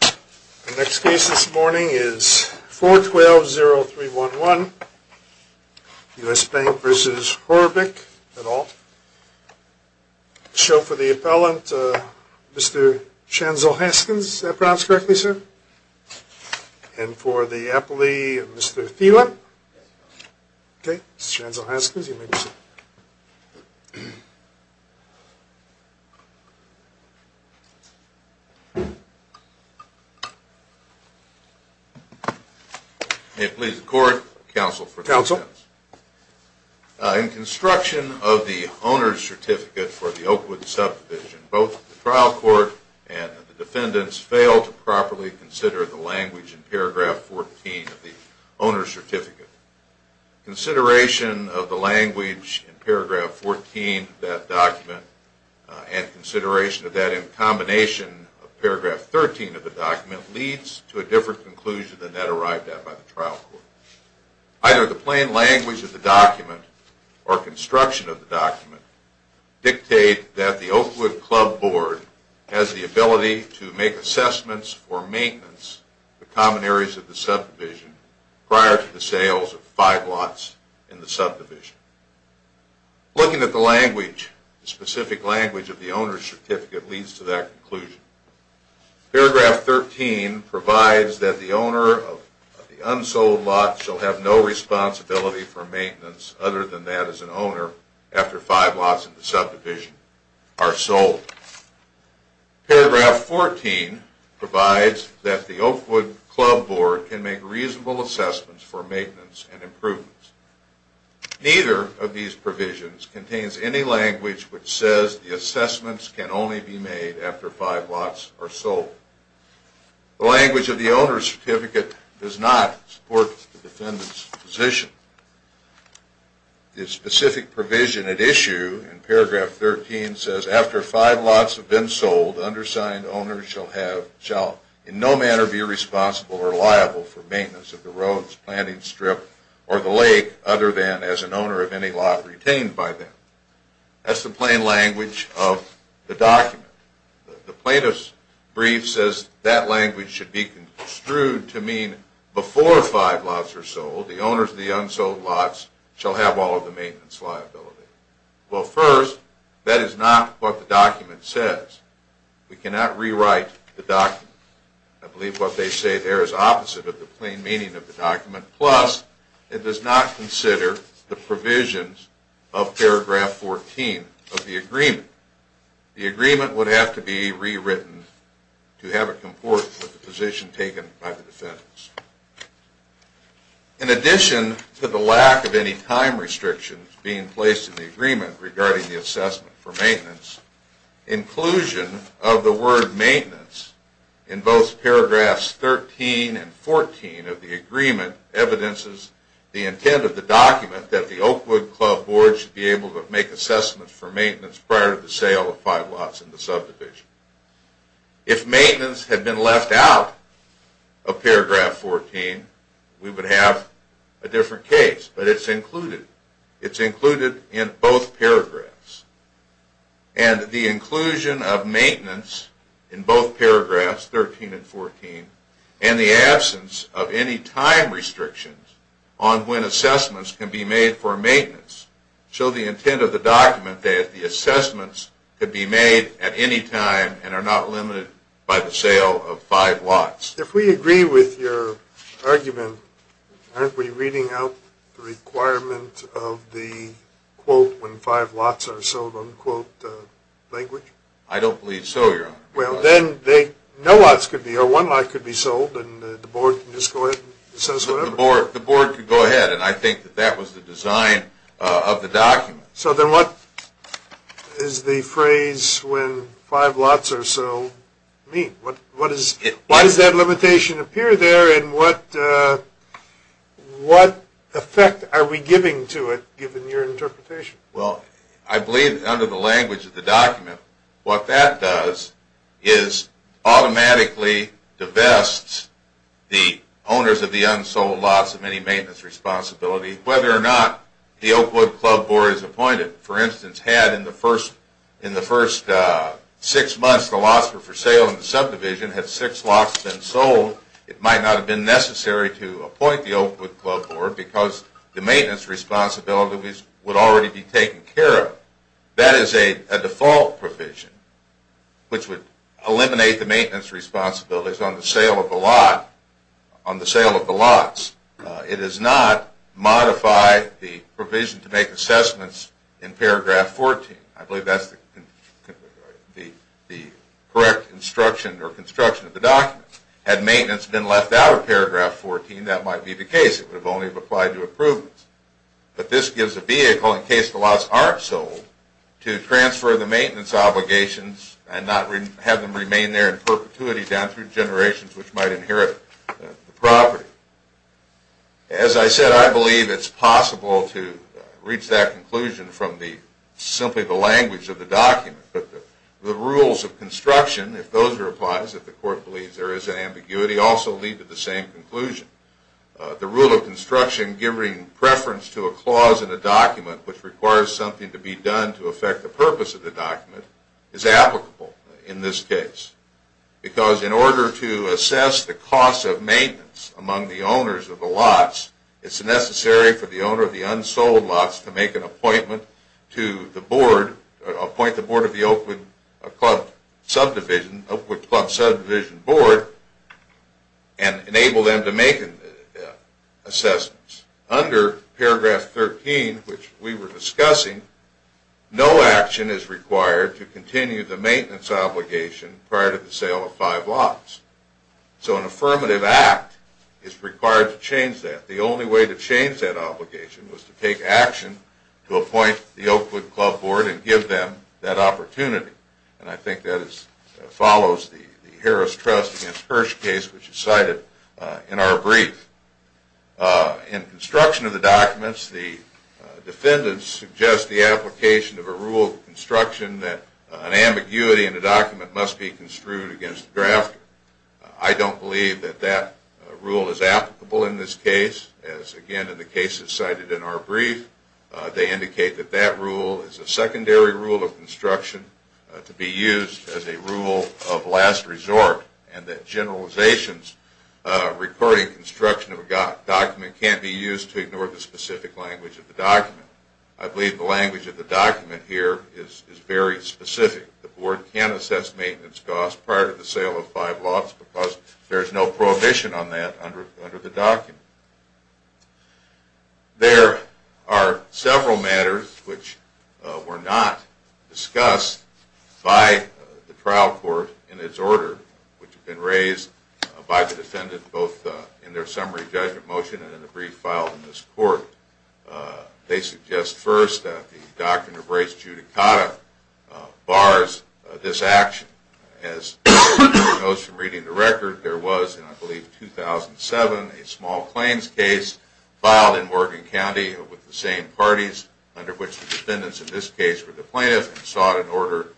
The next case this morning is 412-0311, U.S. Bank v. Horabik, et al. I'll show for the appellant Mr. Shanzel Haskins. Is that pronounced correctly, sir? And for the appellee, Mr. Thielen? Okay, Mr. Shanzel Haskins, you may be seated. May it please the court, counsel for the defense. Counsel. In construction of the owner's certificate for the Oakwood subdivision, both the trial court and the defendants failed to properly consider the language in paragraph 14 of the owner's certificate. Consideration of the language in paragraph 14 of that document and consideration of that in combination of paragraph 13 of the document leads to a different conclusion than that arrived at by the trial court. Either the plain language of the document or construction of the document dictate that the Oakwood Club Board has the ability to make assessments for maintenance of common areas of the subdivision prior to the sales of five lots in the subdivision. Looking at the specific language of the owner's certificate leads to that conclusion. Paragraph 13 provides that the owner of the unsold lot shall have no responsibility for maintenance other than that as an owner after five lots in the subdivision are sold. Paragraph 14 provides that the Oakwood Club Board can make reasonable assessments for maintenance and improvements. Neither of these provisions contains any language which says the assessments can only be made after five lots are sold. The language of the owner's certificate does not support the defendant's position. The specific provision at issue in paragraph 13 says after five lots have been sold, undersigned owners shall in no manner be responsible or liable for maintenance of the roads, planting strip, or the lake other than as an owner of any lot retained by them. That's the plain language of the document. The plaintiff's brief says that language should be construed to mean before five lots are sold, the owners of the unsold lots shall have all of the maintenance liability. Well, first, that is not what the document says. We cannot rewrite the document. I believe what they say there is opposite of the plain meaning of the document. Plus, it does not consider the provisions of paragraph 14 of the agreement. The agreement would have to be rewritten to have it comport with the position taken by the defendants. In addition to the lack of any time restrictions being placed in the agreement regarding the assessment for maintenance, inclusion of the word maintenance in both paragraphs 13 and 14 of the agreement evidences the intent of the document that the Oakwood Club Board should be able to make assessments for maintenance prior to the sale of five lots in the subdivision. If maintenance had been left out of paragraph 14, we would have a different case, but it's included. It's included in both paragraphs. And the inclusion of maintenance in both paragraphs 13 and 14 and the absence of any time restrictions on when assessments can be made for maintenance show the intent of the document that the assessments could be made at any time and are not limited by the sale of five lots. If we agree with your argument, aren't we reading out the requirement of the, quote, when five lots are sold, unquote, language? I don't believe so, Your Honor. Well, then no lots could be, or one lot could be sold, and the board can just go ahead and assess whatever. The board could go ahead, and I think that that was the design of the document. So then what does the phrase, when five lots are sold, mean? What does that limitation appear there, and what effect are we giving to it, given your interpretation? Well, I believe under the language of the document, what that does is automatically divest the owners of the unsold lots of any maintenance responsibility, whether or not the Oakwood Club Board is appointed. For instance, had in the first six months the lots were for sale in the subdivision, had six lots been sold, it might not have been necessary to appoint the Oakwood Club Board because the maintenance responsibilities would already be taken care of. That is a default provision, which would eliminate the maintenance responsibilities on the sale of the lot, on the sale of the lots. It does not modify the provision to make assessments in paragraph 14. I believe that's the correct instruction or construction of the document. Had maintenance been left out of paragraph 14, that might be the case. It would have only applied to improvements. But this gives a vehicle, in case the lots aren't sold, to transfer the maintenance obligations and not have them remain there in perpetuity down through generations, which might inherit the property. As I said, I believe it's possible to reach that conclusion from simply the language of the document. The rules of construction, if those are applied, if the court believes there is an ambiguity, also lead to the same conclusion. The rule of construction giving preference to a clause in a document which requires something to be done to affect the purpose of the document is applicable in this case. Because in order to assess the cost of maintenance among the owners of the lots, it's necessary for the owner of the unsold lots to make an appointment to the board, appoint the board of the Oakwood Club Subdivision Board, and enable them to make assessments. Under paragraph 13, which we were discussing, no action is required to continue the maintenance obligation prior to the sale of five lots. So an affirmative act is required to change that. The only way to change that obligation was to take action to appoint the Oakwood Club Board and give them that opportunity. And I think that follows the Harris Trust v. Hirsch case, which is cited in our brief. In construction of the documents, the defendants suggest the application of a rule of construction that an ambiguity in the document must be construed against the drafter. I don't believe that that rule is applicable in this case. As again in the cases cited in our brief, they indicate that that rule is a secondary rule of construction to be used as a rule of last resort and that generalizations regarding construction of a document can't be used to ignore the specific language of the document. I believe the language of the document here is very specific. The board can assess maintenance costs prior to the sale of five lots because there is no prohibition on that under the document. There are several matters which were not discussed by the trial court in its order, which have been raised by the defendant both in their summary judgment motion and in a brief filed in this court. They suggest first that the doctrine of res judicata bars this action. As we know from reading the record, there was in 2007 a small claims case filed in Morgan County with the same parties under which the defendants in this case were the plaintiffs and sought an order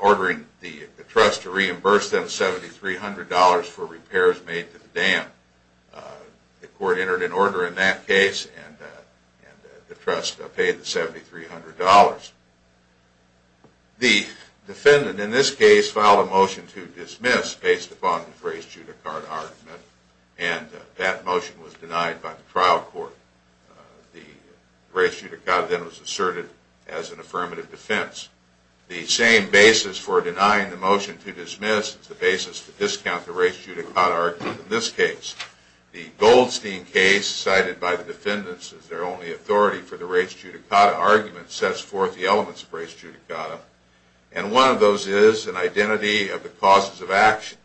ordering the trust to reimburse them $7,300 for repairs made to the dam. The court entered an order in that case and the trust paid the $7,300. The defendant in this case filed a motion to dismiss based upon the res judicata argument and that motion was denied by the trial court. The res judicata then was asserted as an affirmative defense. The same basis for denying the motion to dismiss is the basis for discounting the res judicata argument in this case. The Goldstein case cited by the defendants as their only authority for the res judicata argument sets forth the elements of res judicata and one of those is an identity of the causes of action.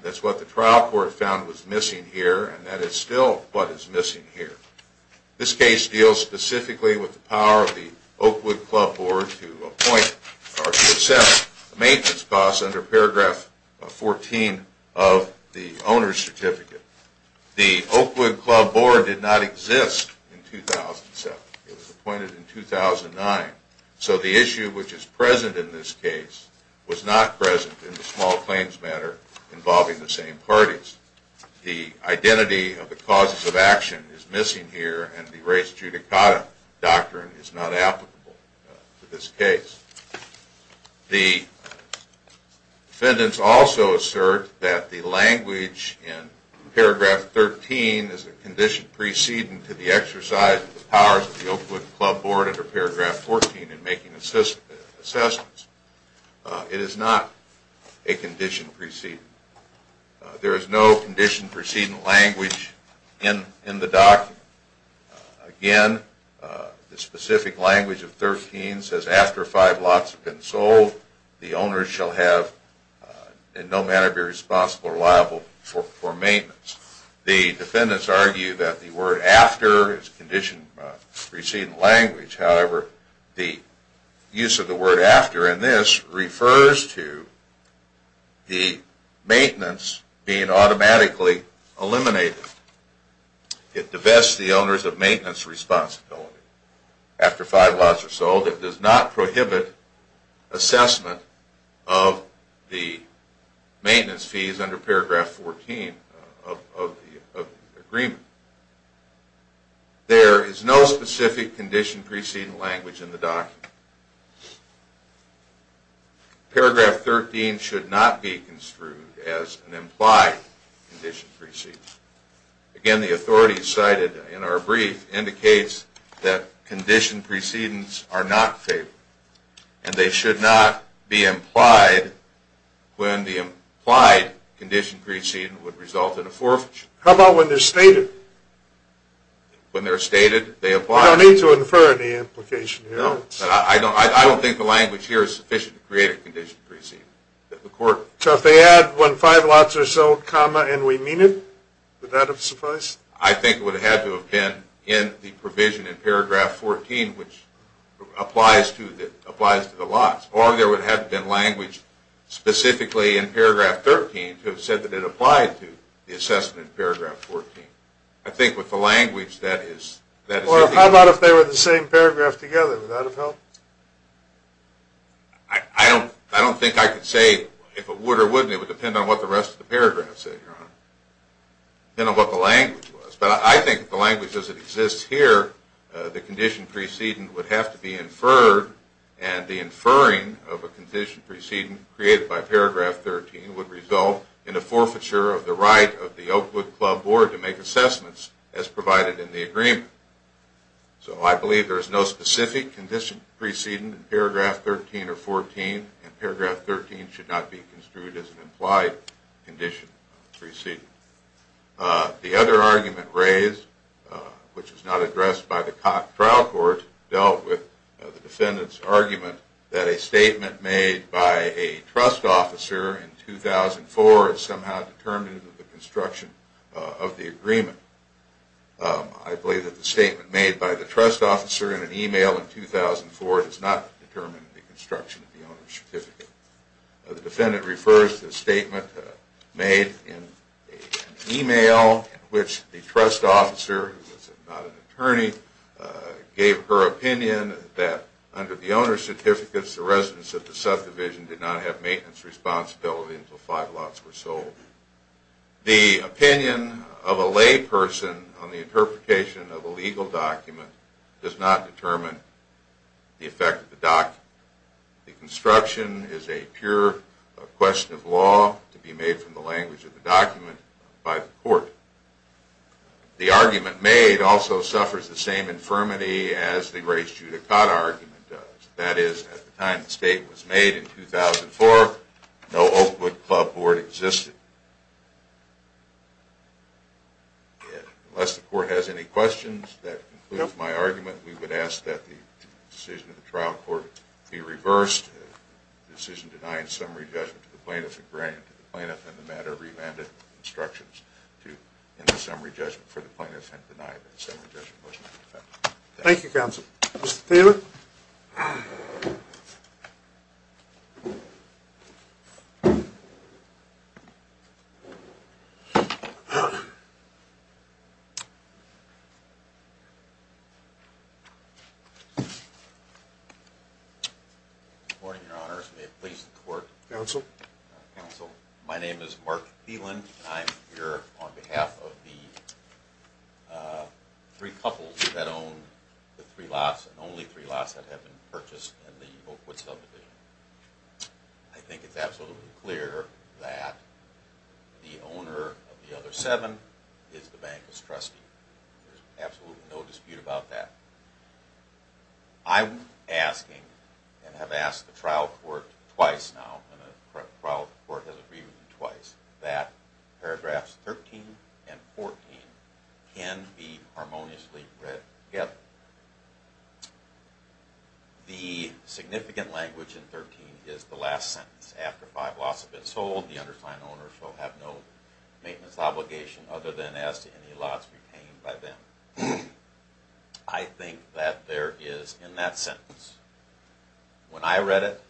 That's what the trial court found was missing here and that is still what is missing here. This case deals specifically with the power of the Oakwood Club Board to assess maintenance costs under paragraph 14 of the owner's certificate. The Oakwood Club Board did not exist in 2007. It was appointed in 2009. So the issue which is present in this case was not present in the small claims matter involving the same parties. The identity of the causes of action is missing here and the res judicata doctrine is not applicable to this case. The defendants also assert that the language in paragraph 13 is a condition preceding to the exercise of the powers of the Oakwood Club Board under paragraph 14 in making assessments. It is not a condition preceding. There is no condition preceding language in the document. Again, the specific language of 13 says after five lots have been sold, the owner shall have in no manner be responsible or liable for maintenance. The defendants argue that the word after is a condition preceding language. However, the use of the word after in this refers to the maintenance being automatically eliminated. It divests the owners of maintenance responsibility. After five lots are sold, it does not prohibit assessment of the maintenance fees under paragraph 14 of the agreement. There is no specific condition preceding language in the document. Paragraph 13 should not be construed as an implied condition preceding. Again, the authority cited in our brief indicates that condition precedings are not favorable and they should not be implied when the implied condition preceding would result in a forfeiture. How about when they're stated? When they're stated, they apply. I don't need to infer any implication here. I don't think the language here is sufficient to create a condition preceding. So if they add when five lots are sold, comma, and we mean it, would that have sufficed? I think it would have had to have been in the provision in paragraph 14, which applies to the lots. Or there would have to have been language specifically in paragraph 13 to have said that it applied to the assessment in paragraph 14. I think with the language, that is... How about if they were the same paragraph together? Would that have helped? I don't think I could say if it would or wouldn't. It would depend on what the rest of the paragraph said, Your Honor. It would depend on what the language was. But I think if the language doesn't exist here, the condition preceding would have to be inferred. And the inferring of a condition preceding created by paragraph 13 would result in a forfeiture of the right of the Oakwood Club Board to make assessments as provided in the agreement. So I believe there is no specific condition preceding paragraph 13 or 14, and paragraph 13 should not be construed as an implied condition preceding. The other argument raised, which is not addressed by the trial court, dealt with the defendant's argument that a statement made by a trust officer in 2004 is somehow determinative of the construction of the agreement. I believe that the statement made by the trust officer in an email in 2004 does not determine the construction of the owner's certificate. The defendant refers to the statement made in an email in which the trust officer, who was not an attorney, gave her opinion that under the owner's certificates, the residents of the subdivision did not have maintenance responsibility until five lots were sold. The opinion of a layperson on the interpretation of a legal document does not determine the effect of the document. The construction is a pure question of law to be made from the language of the document by the court. The argument made also suffers the same infirmity as the race judicata argument does. That is, at the time the statement was made in 2004, no Oakwood Club Board existed. Unless the court has any questions, that concludes my argument. We would ask that the decision of the trial court be reversed, the decision denied summary judgment to the plaintiff in the matter of remanded instructions to end the summary judgment for the plaintiff and deny the summary judgment of the defendant. Thank you, counsel. Mr. Taylor? Good morning, your honors. May it please the court? Counsel? Counsel. My name is Mark Phelan. I'm here on behalf of the three couples that own the three lots and only three lots that have been purchased in the Oakwood subdivision. I think it's absolutely clear that the owner of the other seven is the bankless trustee. There's absolutely no dispute about that. I'm asking and have asked the trial court twice now, and the trial court has agreed with me twice, that paragraphs 13 and 14 can be harmoniously read together. The significant language in 13 is the last sentence. After five lots have been sold, the undersigned owner shall have no maintenance obligation other than as to any lots retained by them. I think that there is, in that sentence, when I read it,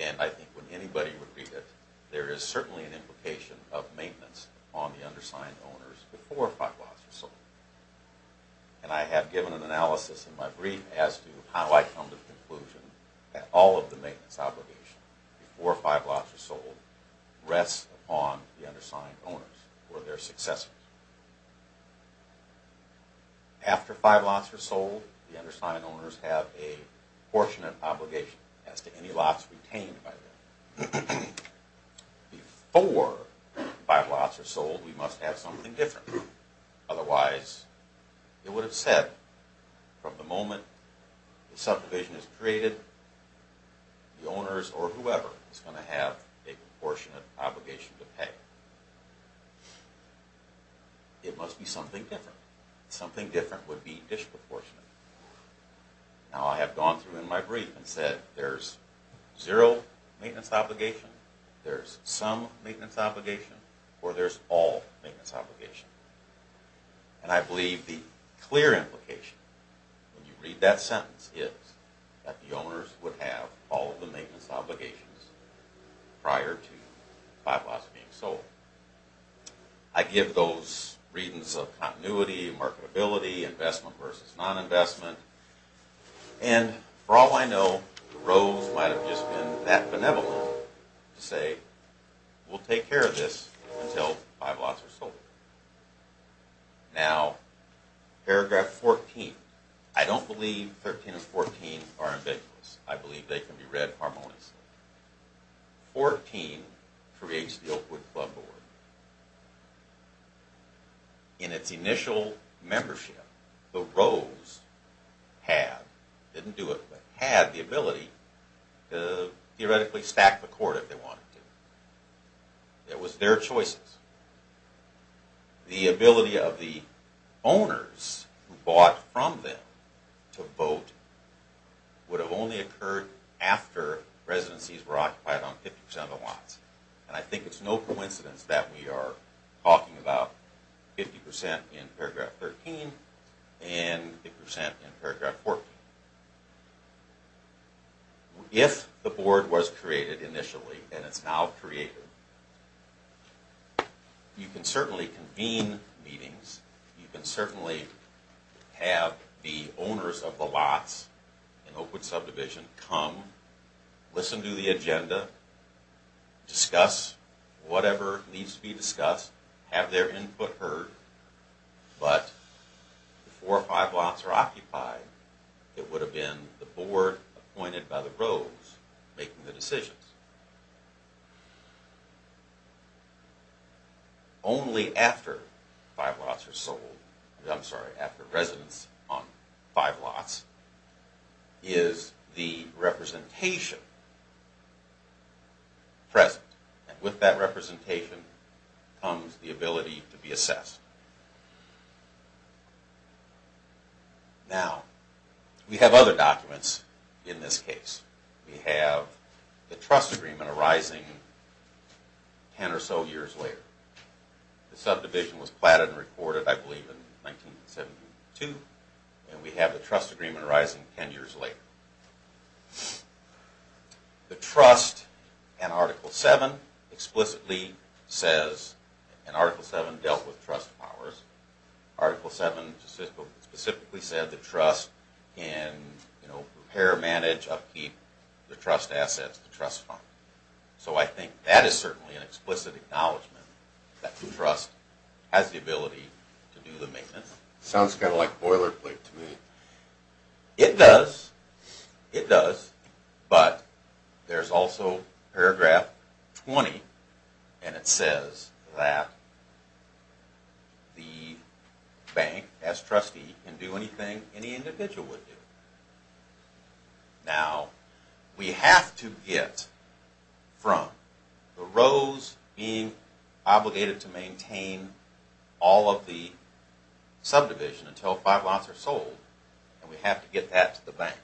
and I think when anybody would read it, there is certainly an implication of maintenance on the undersigned owners before five lots are sold. And I have given an analysis in my brief as to how I come to the conclusion that all of the maintenance obligation before five lots are sold rests upon the undersigned owners or their successors. After five lots are sold, the undersigned owners have a proportionate obligation as to any lots retained by them. Before five lots are sold, we must have something different. Otherwise, it would have said from the moment the subdivision is created, the owners or whoever is going to have a proportionate obligation to pay. It must be something different. Something different would be disproportionate. Now I have gone through in my brief and said there is zero maintenance obligation, there is some maintenance obligation, or there is all maintenance obligation. And I believe the clear implication when you read that sentence is that the owners would have all of the maintenance obligations prior to five lots being sold. I give those readings of continuity, marketability, investment versus non-investment. And for all I know, the Rose might have just been that benevolent to say we will take care of this until five lots are sold. Now paragraph 14, I don't believe 13 and 14 are ambiguous. I believe they can be read harmoniously. 14 creates the Oakwood Club Board. In its initial membership, the Rose had, didn't do it, but had the ability to theoretically stack the court if they wanted to. It was their choices. The ability of the owners who bought from them to vote would have only occurred after residencies were occupied on 50% of the lots. And I think it's no coincidence that we are talking about 50% in paragraph 13 and 50% in paragraph 14. If the board was created initially, and it's now created, you can certainly convene meetings. You can certainly have the owners of the lots in Oakwood subdivision come, listen to the agenda, discuss whatever needs to be discussed, have their input heard. But before five lots were occupied, it would have been the board appointed by the Rose making the decisions. Only after five lots are sold, I'm sorry, after residence on five lots, is the representation present. And with that representation comes the ability to be assessed. Now, we have other documents in this case. We have the trust agreement arising ten or so years later. The subdivision was platted and recorded, I believe, in 1972, and we have the trust agreement arising ten years later. The trust in Article 7 explicitly says, and Article 7 dealt with trust powers, Article 7 specifically said that trust can repair, manage, upkeep, the trust assets, the trust fund. So I think that is certainly an explicit acknowledgement that the trust has the ability to do the maintenance. Sounds kind of like boilerplate to me. It does. It does. But there's also paragraph 20, and it says that the bank, as trustee, can do anything any individual would do. Now, we have to get from the Rose being obligated to maintain all of the subdivision until five lots are sold, and we have to get that to the bank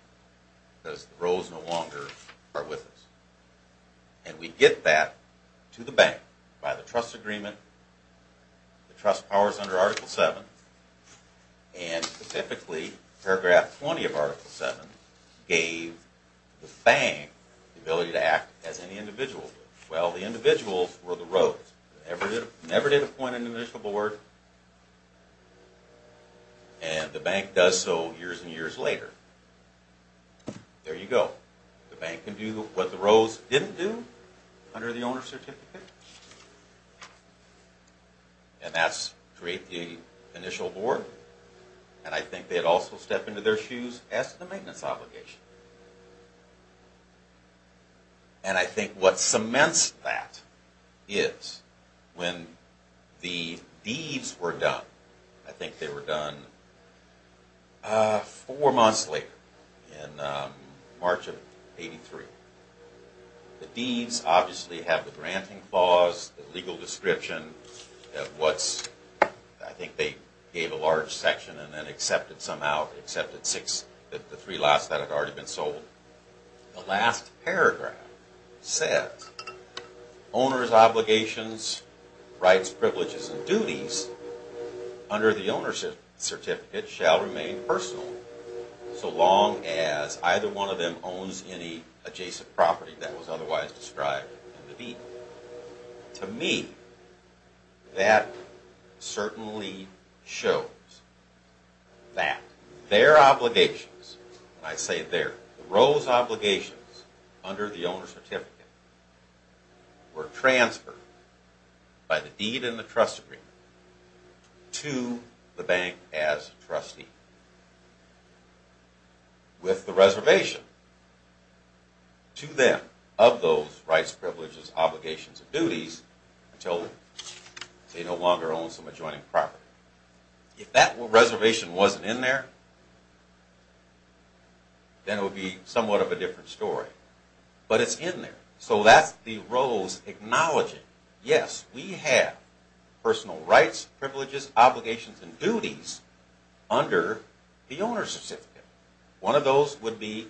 because the Rose no longer are with us. And we get that to the bank by the trust agreement, the trust powers under Article 7, and specifically paragraph 20 of Article 7 gave the bank the ability to act as any individual would. And that's create the initial board, and I think they'd also step into their shoes as to the maintenance obligation. And I think what cements that is when the deeds were done, I think they were done four months later in March of 83, the deeds obviously have the granting clause, the legal description of what's, I think they gave a large section and then accepted somehow, accepted six, the three lots that had already been sold. The last paragraph said, owner's obligations, rights, privileges, and duties under the owner's certificate shall remain personal so long as either one of them owns any adjacent property that was otherwise described in the deed. To me, that certainly shows that their obligations, and I say their, the Rose obligations under the owner's certificate were transferred by the deed and the trust agreement to the bank as trustee. With the reservation to them of those rights, privileges, obligations, and duties until they no longer own some adjoining property. If that reservation wasn't in there, then it would be somewhat of a different story. But it's in there. So that's the Rose acknowledging, yes, we have personal rights, privileges, obligations, and duties under the owner's certificate. One of those would be,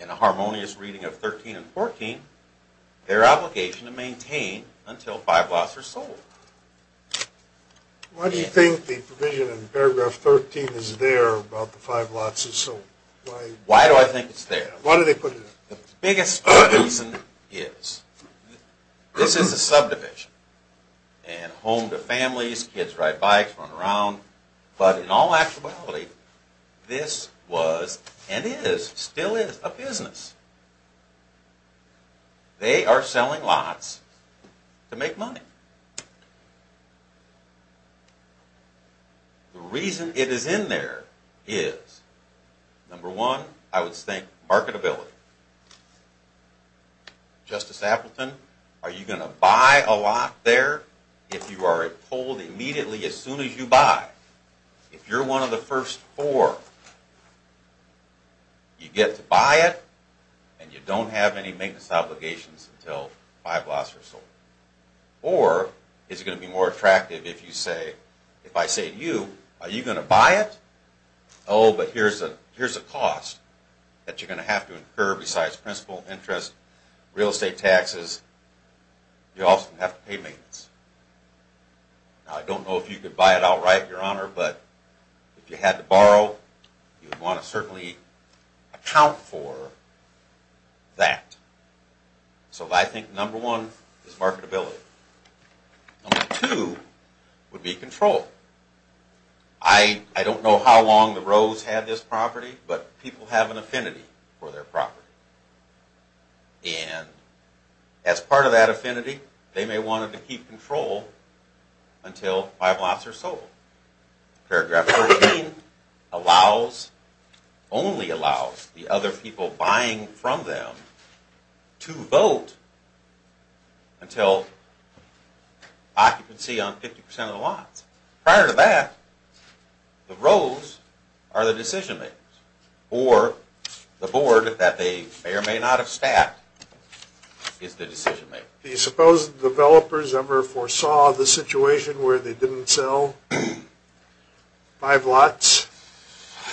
in a harmonious reading of 13 and 14, their obligation to maintain until five lots are sold. Why do you think the provision in paragraph 13 is there about the five lots sold? Why do I think it's there? Why do they put it there? The biggest reason is, this is a subdivision, and home to families, kids ride bikes, run around, but in all actuality, this was, and is, still is, a business. They are selling lots to make money. The reason it is in there is, number one, I would think marketability. Justice Appleton, are you going to buy a lot there if you are told immediately as soon as you buy? If you're one of the first four, you get to buy it, and you don't have any maintenance obligations until five lots are sold. Or, is it going to be more attractive if I say to you, are you going to buy it? Oh, but here's a cost that you're going to have to incur besides principal, interest, real estate taxes, you also have to pay maintenance. Now, I don't know if you could buy it outright, Your Honor, but if you had to borrow, you would want to certainly account for that. So, I think number one is marketability. Number two would be control. I don't know how long the Rose had this property, but people have an affinity for their property. And, as part of that affinity, they may want to keep control until five lots are sold. Paragraph 13 allows, only allows, the other people buying from them to vote until occupancy on 50% of the lots. Prior to that, the Rose are the decision-makers. Or, the board, that they may or may not have staffed, is the decision-maker. Do you suppose the developers ever foresaw the situation where they didn't sell five lots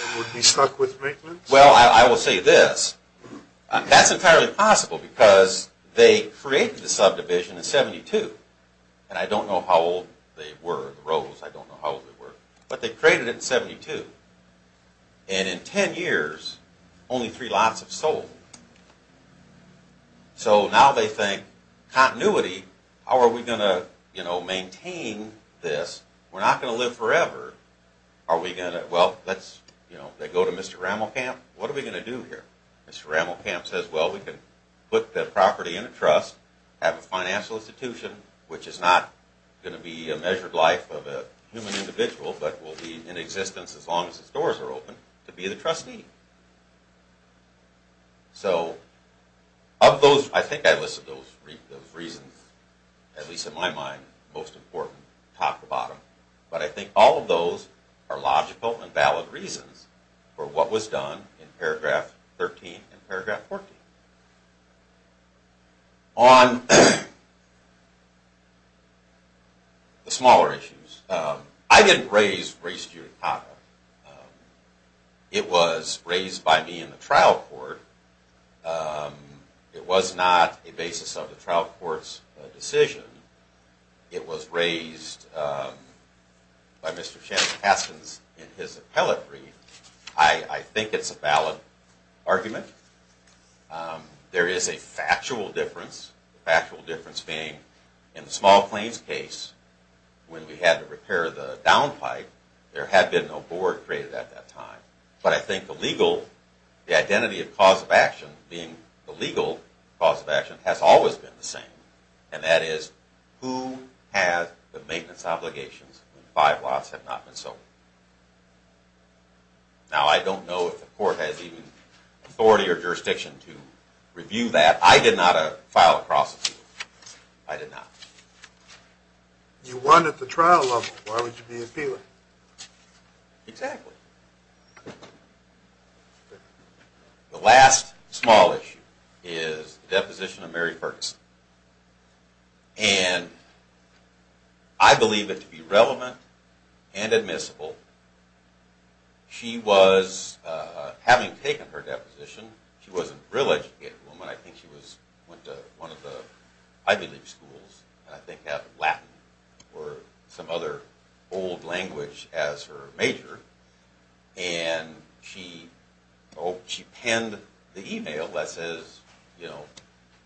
and would be stuck with maintenance? Well, I will say this. That's entirely possible because they created the subdivision in 1972. And, I don't know how old they were, the Rose, I don't know how old they were. But, they created it in 1972. And, in ten years, only three lots have sold. So, now they think, continuity, how are we going to maintain this? We're not going to live forever. Are we going to, well, they go to Mr. Rammelkamp, what are we going to do here? Mr. Rammelkamp says, well, we can put the property in a trust, have a financial institution, which is not going to be a measured life of a human individual, but will be in existence as long as the doors are open, to be the trustee. So, of those, I think I listed those reasons, at least in my mind, most important, top to bottom. But, I think all of those are logical and valid reasons for what was done in paragraph 13 and paragraph 14. On the smaller issues, I didn't raise Grace Giudicata. It was raised by me in the trial court. It was not a basis of the trial court's decision. It was raised by Mr. Shannon Haskins in his appellate brief. I think it's a valid argument. There is a factual difference. The factual difference being, in the small claims case, when we had to repair the downpipe, there had been no board created at that time. But, I think the legal, the identity of cause of action, being the legal cause of action, has always been the same. And that is, who has the maintenance obligations when five lots have not been sold? Now, I don't know if the court has even authority or jurisdiction to review that. I did not file a cross appeal. I did not. You won at the trial level. Why would you be appealing? Exactly. The last small issue is the deposition of Mary Ferguson. And, I believe it to be relevant and admissible. She was, having taken her deposition, she wasn't a real educated woman. I think she went to one of the Ivy League schools. And I think had Latin or some other old language as her major. And, she penned the email that says, you know,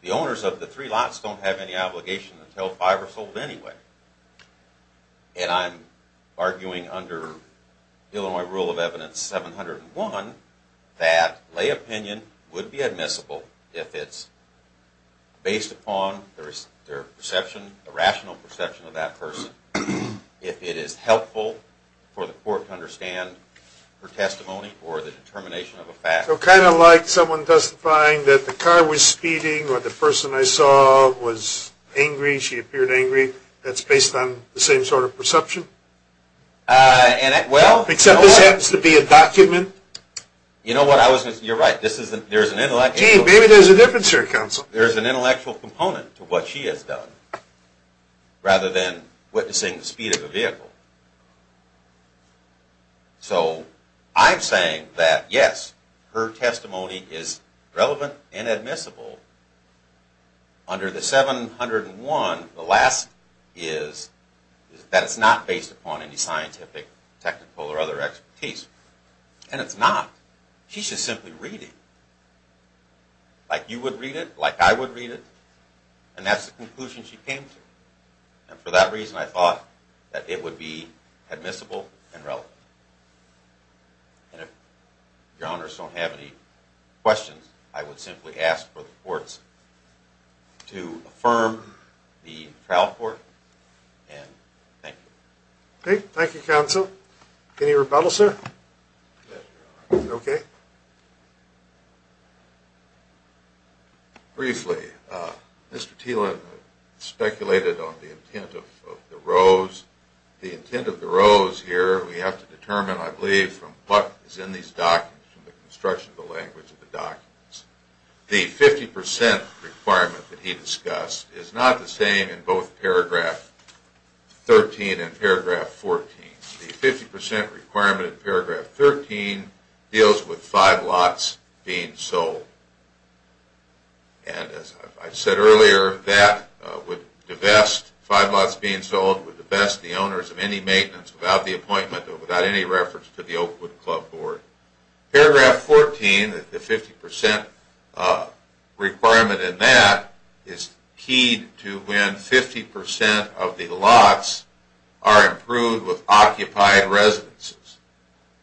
the owners of the three lots don't have any obligation to tell if five are sold anyway. And I'm arguing under Illinois Rule of Evidence 701, that lay opinion would be admissible if it's based upon their perception, the rational perception of that person. If it is helpful for the court to understand her testimony or the determination of a fact. So, kind of like someone testifying that the car was speeding, or the person I saw was angry, she appeared angry, that's based on the same sort of perception? Except this happens to be a document. You know what, you're right. Maybe there's a difference here, counsel. There's an intellectual component to what she has done. Rather than witnessing the speed of the vehicle. So, I'm saying that yes, her testimony is relevant and admissible. Under the 701, the last is that it's not based upon any scientific, technical or other expertise. And it's not. She's just simply reading. Like you would read it, like I would read it. And that's the conclusion she came to. And for that reason, I thought that it would be admissible and relevant. And if your honors don't have any questions, I would simply ask for the courts to affirm the trial court. And thank you. Okay, thank you, counsel. Any rebuttal, sir? Yes, your honor. Okay. Briefly, Mr. Thielen speculated on the intent of the rows. The intent of the rows here, we have to determine, I believe, from what is in these documents, from the construction of the language of the documents. The 50% requirement that he discussed is not the same in both paragraph 13 and paragraph 14. The 50% requirement in paragraph 13 deals with five lots being sold. And as I said earlier, that would divest, five lots being sold, would divest the owners of any maintenance without the appointment or without any reference to the Oakwood Club Board. Paragraph 14, the 50% requirement in that is keyed to when 50% of the lots are approved with occupied residences.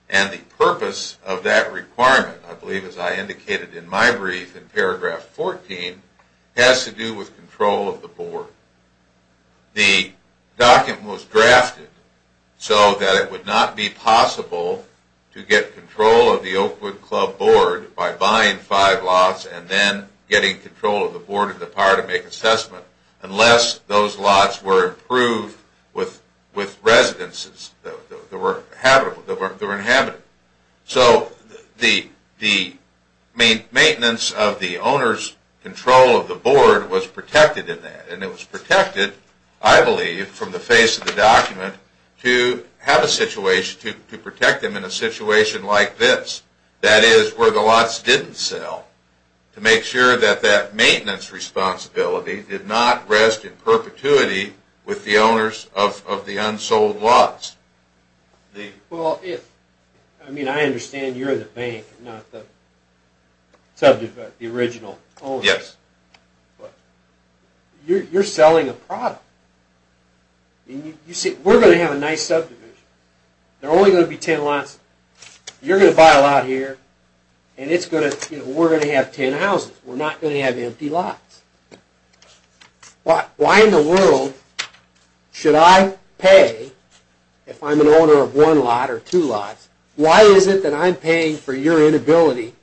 And the purpose of that requirement, I believe, as I indicated in my brief in paragraph 14, has to do with control of the board. The document was drafted so that it would not be possible to get control of the Oakwood Club Board by buying five lots and then getting control of the board in the power to make assessment unless those lots were approved with residences that were inhabited. So the maintenance of the owner's control of the board was protected in that and it was protected, I believe, from the face of the document to have a situation, to protect them in a situation like this. That is, where the lots didn't sell, to make sure that that maintenance responsibility did not rest in perpetuity with the owners of the unsold lots. Well, I mean, I understand you're the bank, not the subject, but the original owner. Yes. But you're selling a product. We're going to have a nice subdivision. There are only going to be ten lots. You're going to buy a lot here and we're going to have ten houses. We're not going to have empty lots. Why in the world should I pay, if I'm an owner of one lot or two lots, why is it that I'm paying for your inability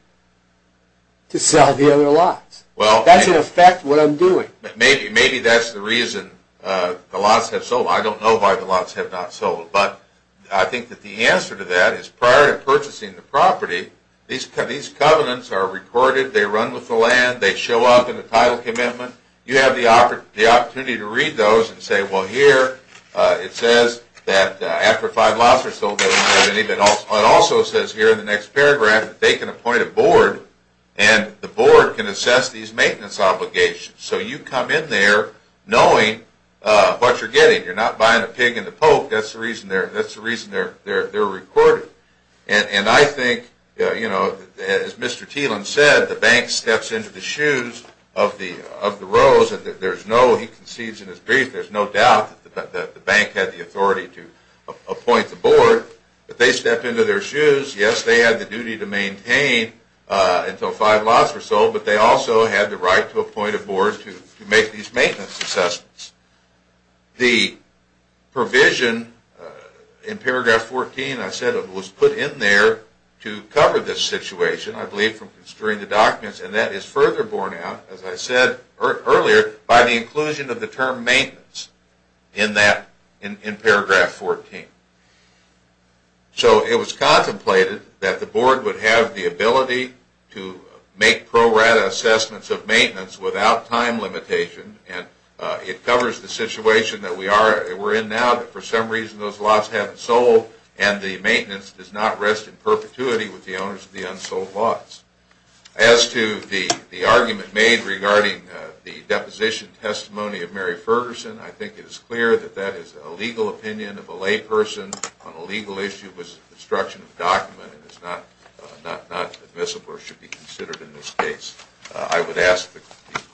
to sell the other lots? That's in effect what I'm doing. Maybe that's the reason the lots have sold. I don't know why the lots have not sold. But I think that the answer to that is prior to purchasing the property, these covenants are recorded, they run with the land, they show up in the title commitment. You have the opportunity to read those and say, well, here it says that after five lots are sold, it also says here in the next paragraph that they can appoint a board and the board can assess these maintenance obligations. So you come in there knowing what you're getting. You're not buying a pig in the poke. That's the reason they're recorded. And I think, as Mr. Thielen said, the bank steps into the shoes of the rose and there's no, he concedes in his brief, there's no doubt that the bank had the authority to appoint the board. But they step into their shoes. Yes, they had the duty to maintain until five lots were sold, but they also had the right to appoint a board to make these maintenance assessments. The provision in paragraph 14, I said, was put in there to cover this situation, I believe from construing the documents, and that is further borne out, as I said earlier, by the inclusion of the term maintenance in paragraph 14. So it was contemplated that the board would have the ability to make pro rata assessments of maintenance without time limitation, and it covers the situation that we're in now, that for some reason those lots haven't sold, and the maintenance does not rest in perpetuity with the owners of the unsold lots. As to the argument made regarding the deposition testimony of Mary Ferguson, I think it is clear that that is a legal opinion of a lay person on a legal issue that was a construction of a document and is not admissible or should be considered in this case. I would ask the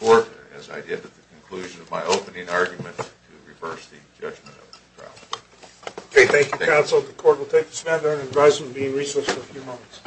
court, as I did at the conclusion of my opening argument, to reverse the judgment of the trial. Okay, thank you, counsel. The court will take this matter under advisement and be in recess for a few moments.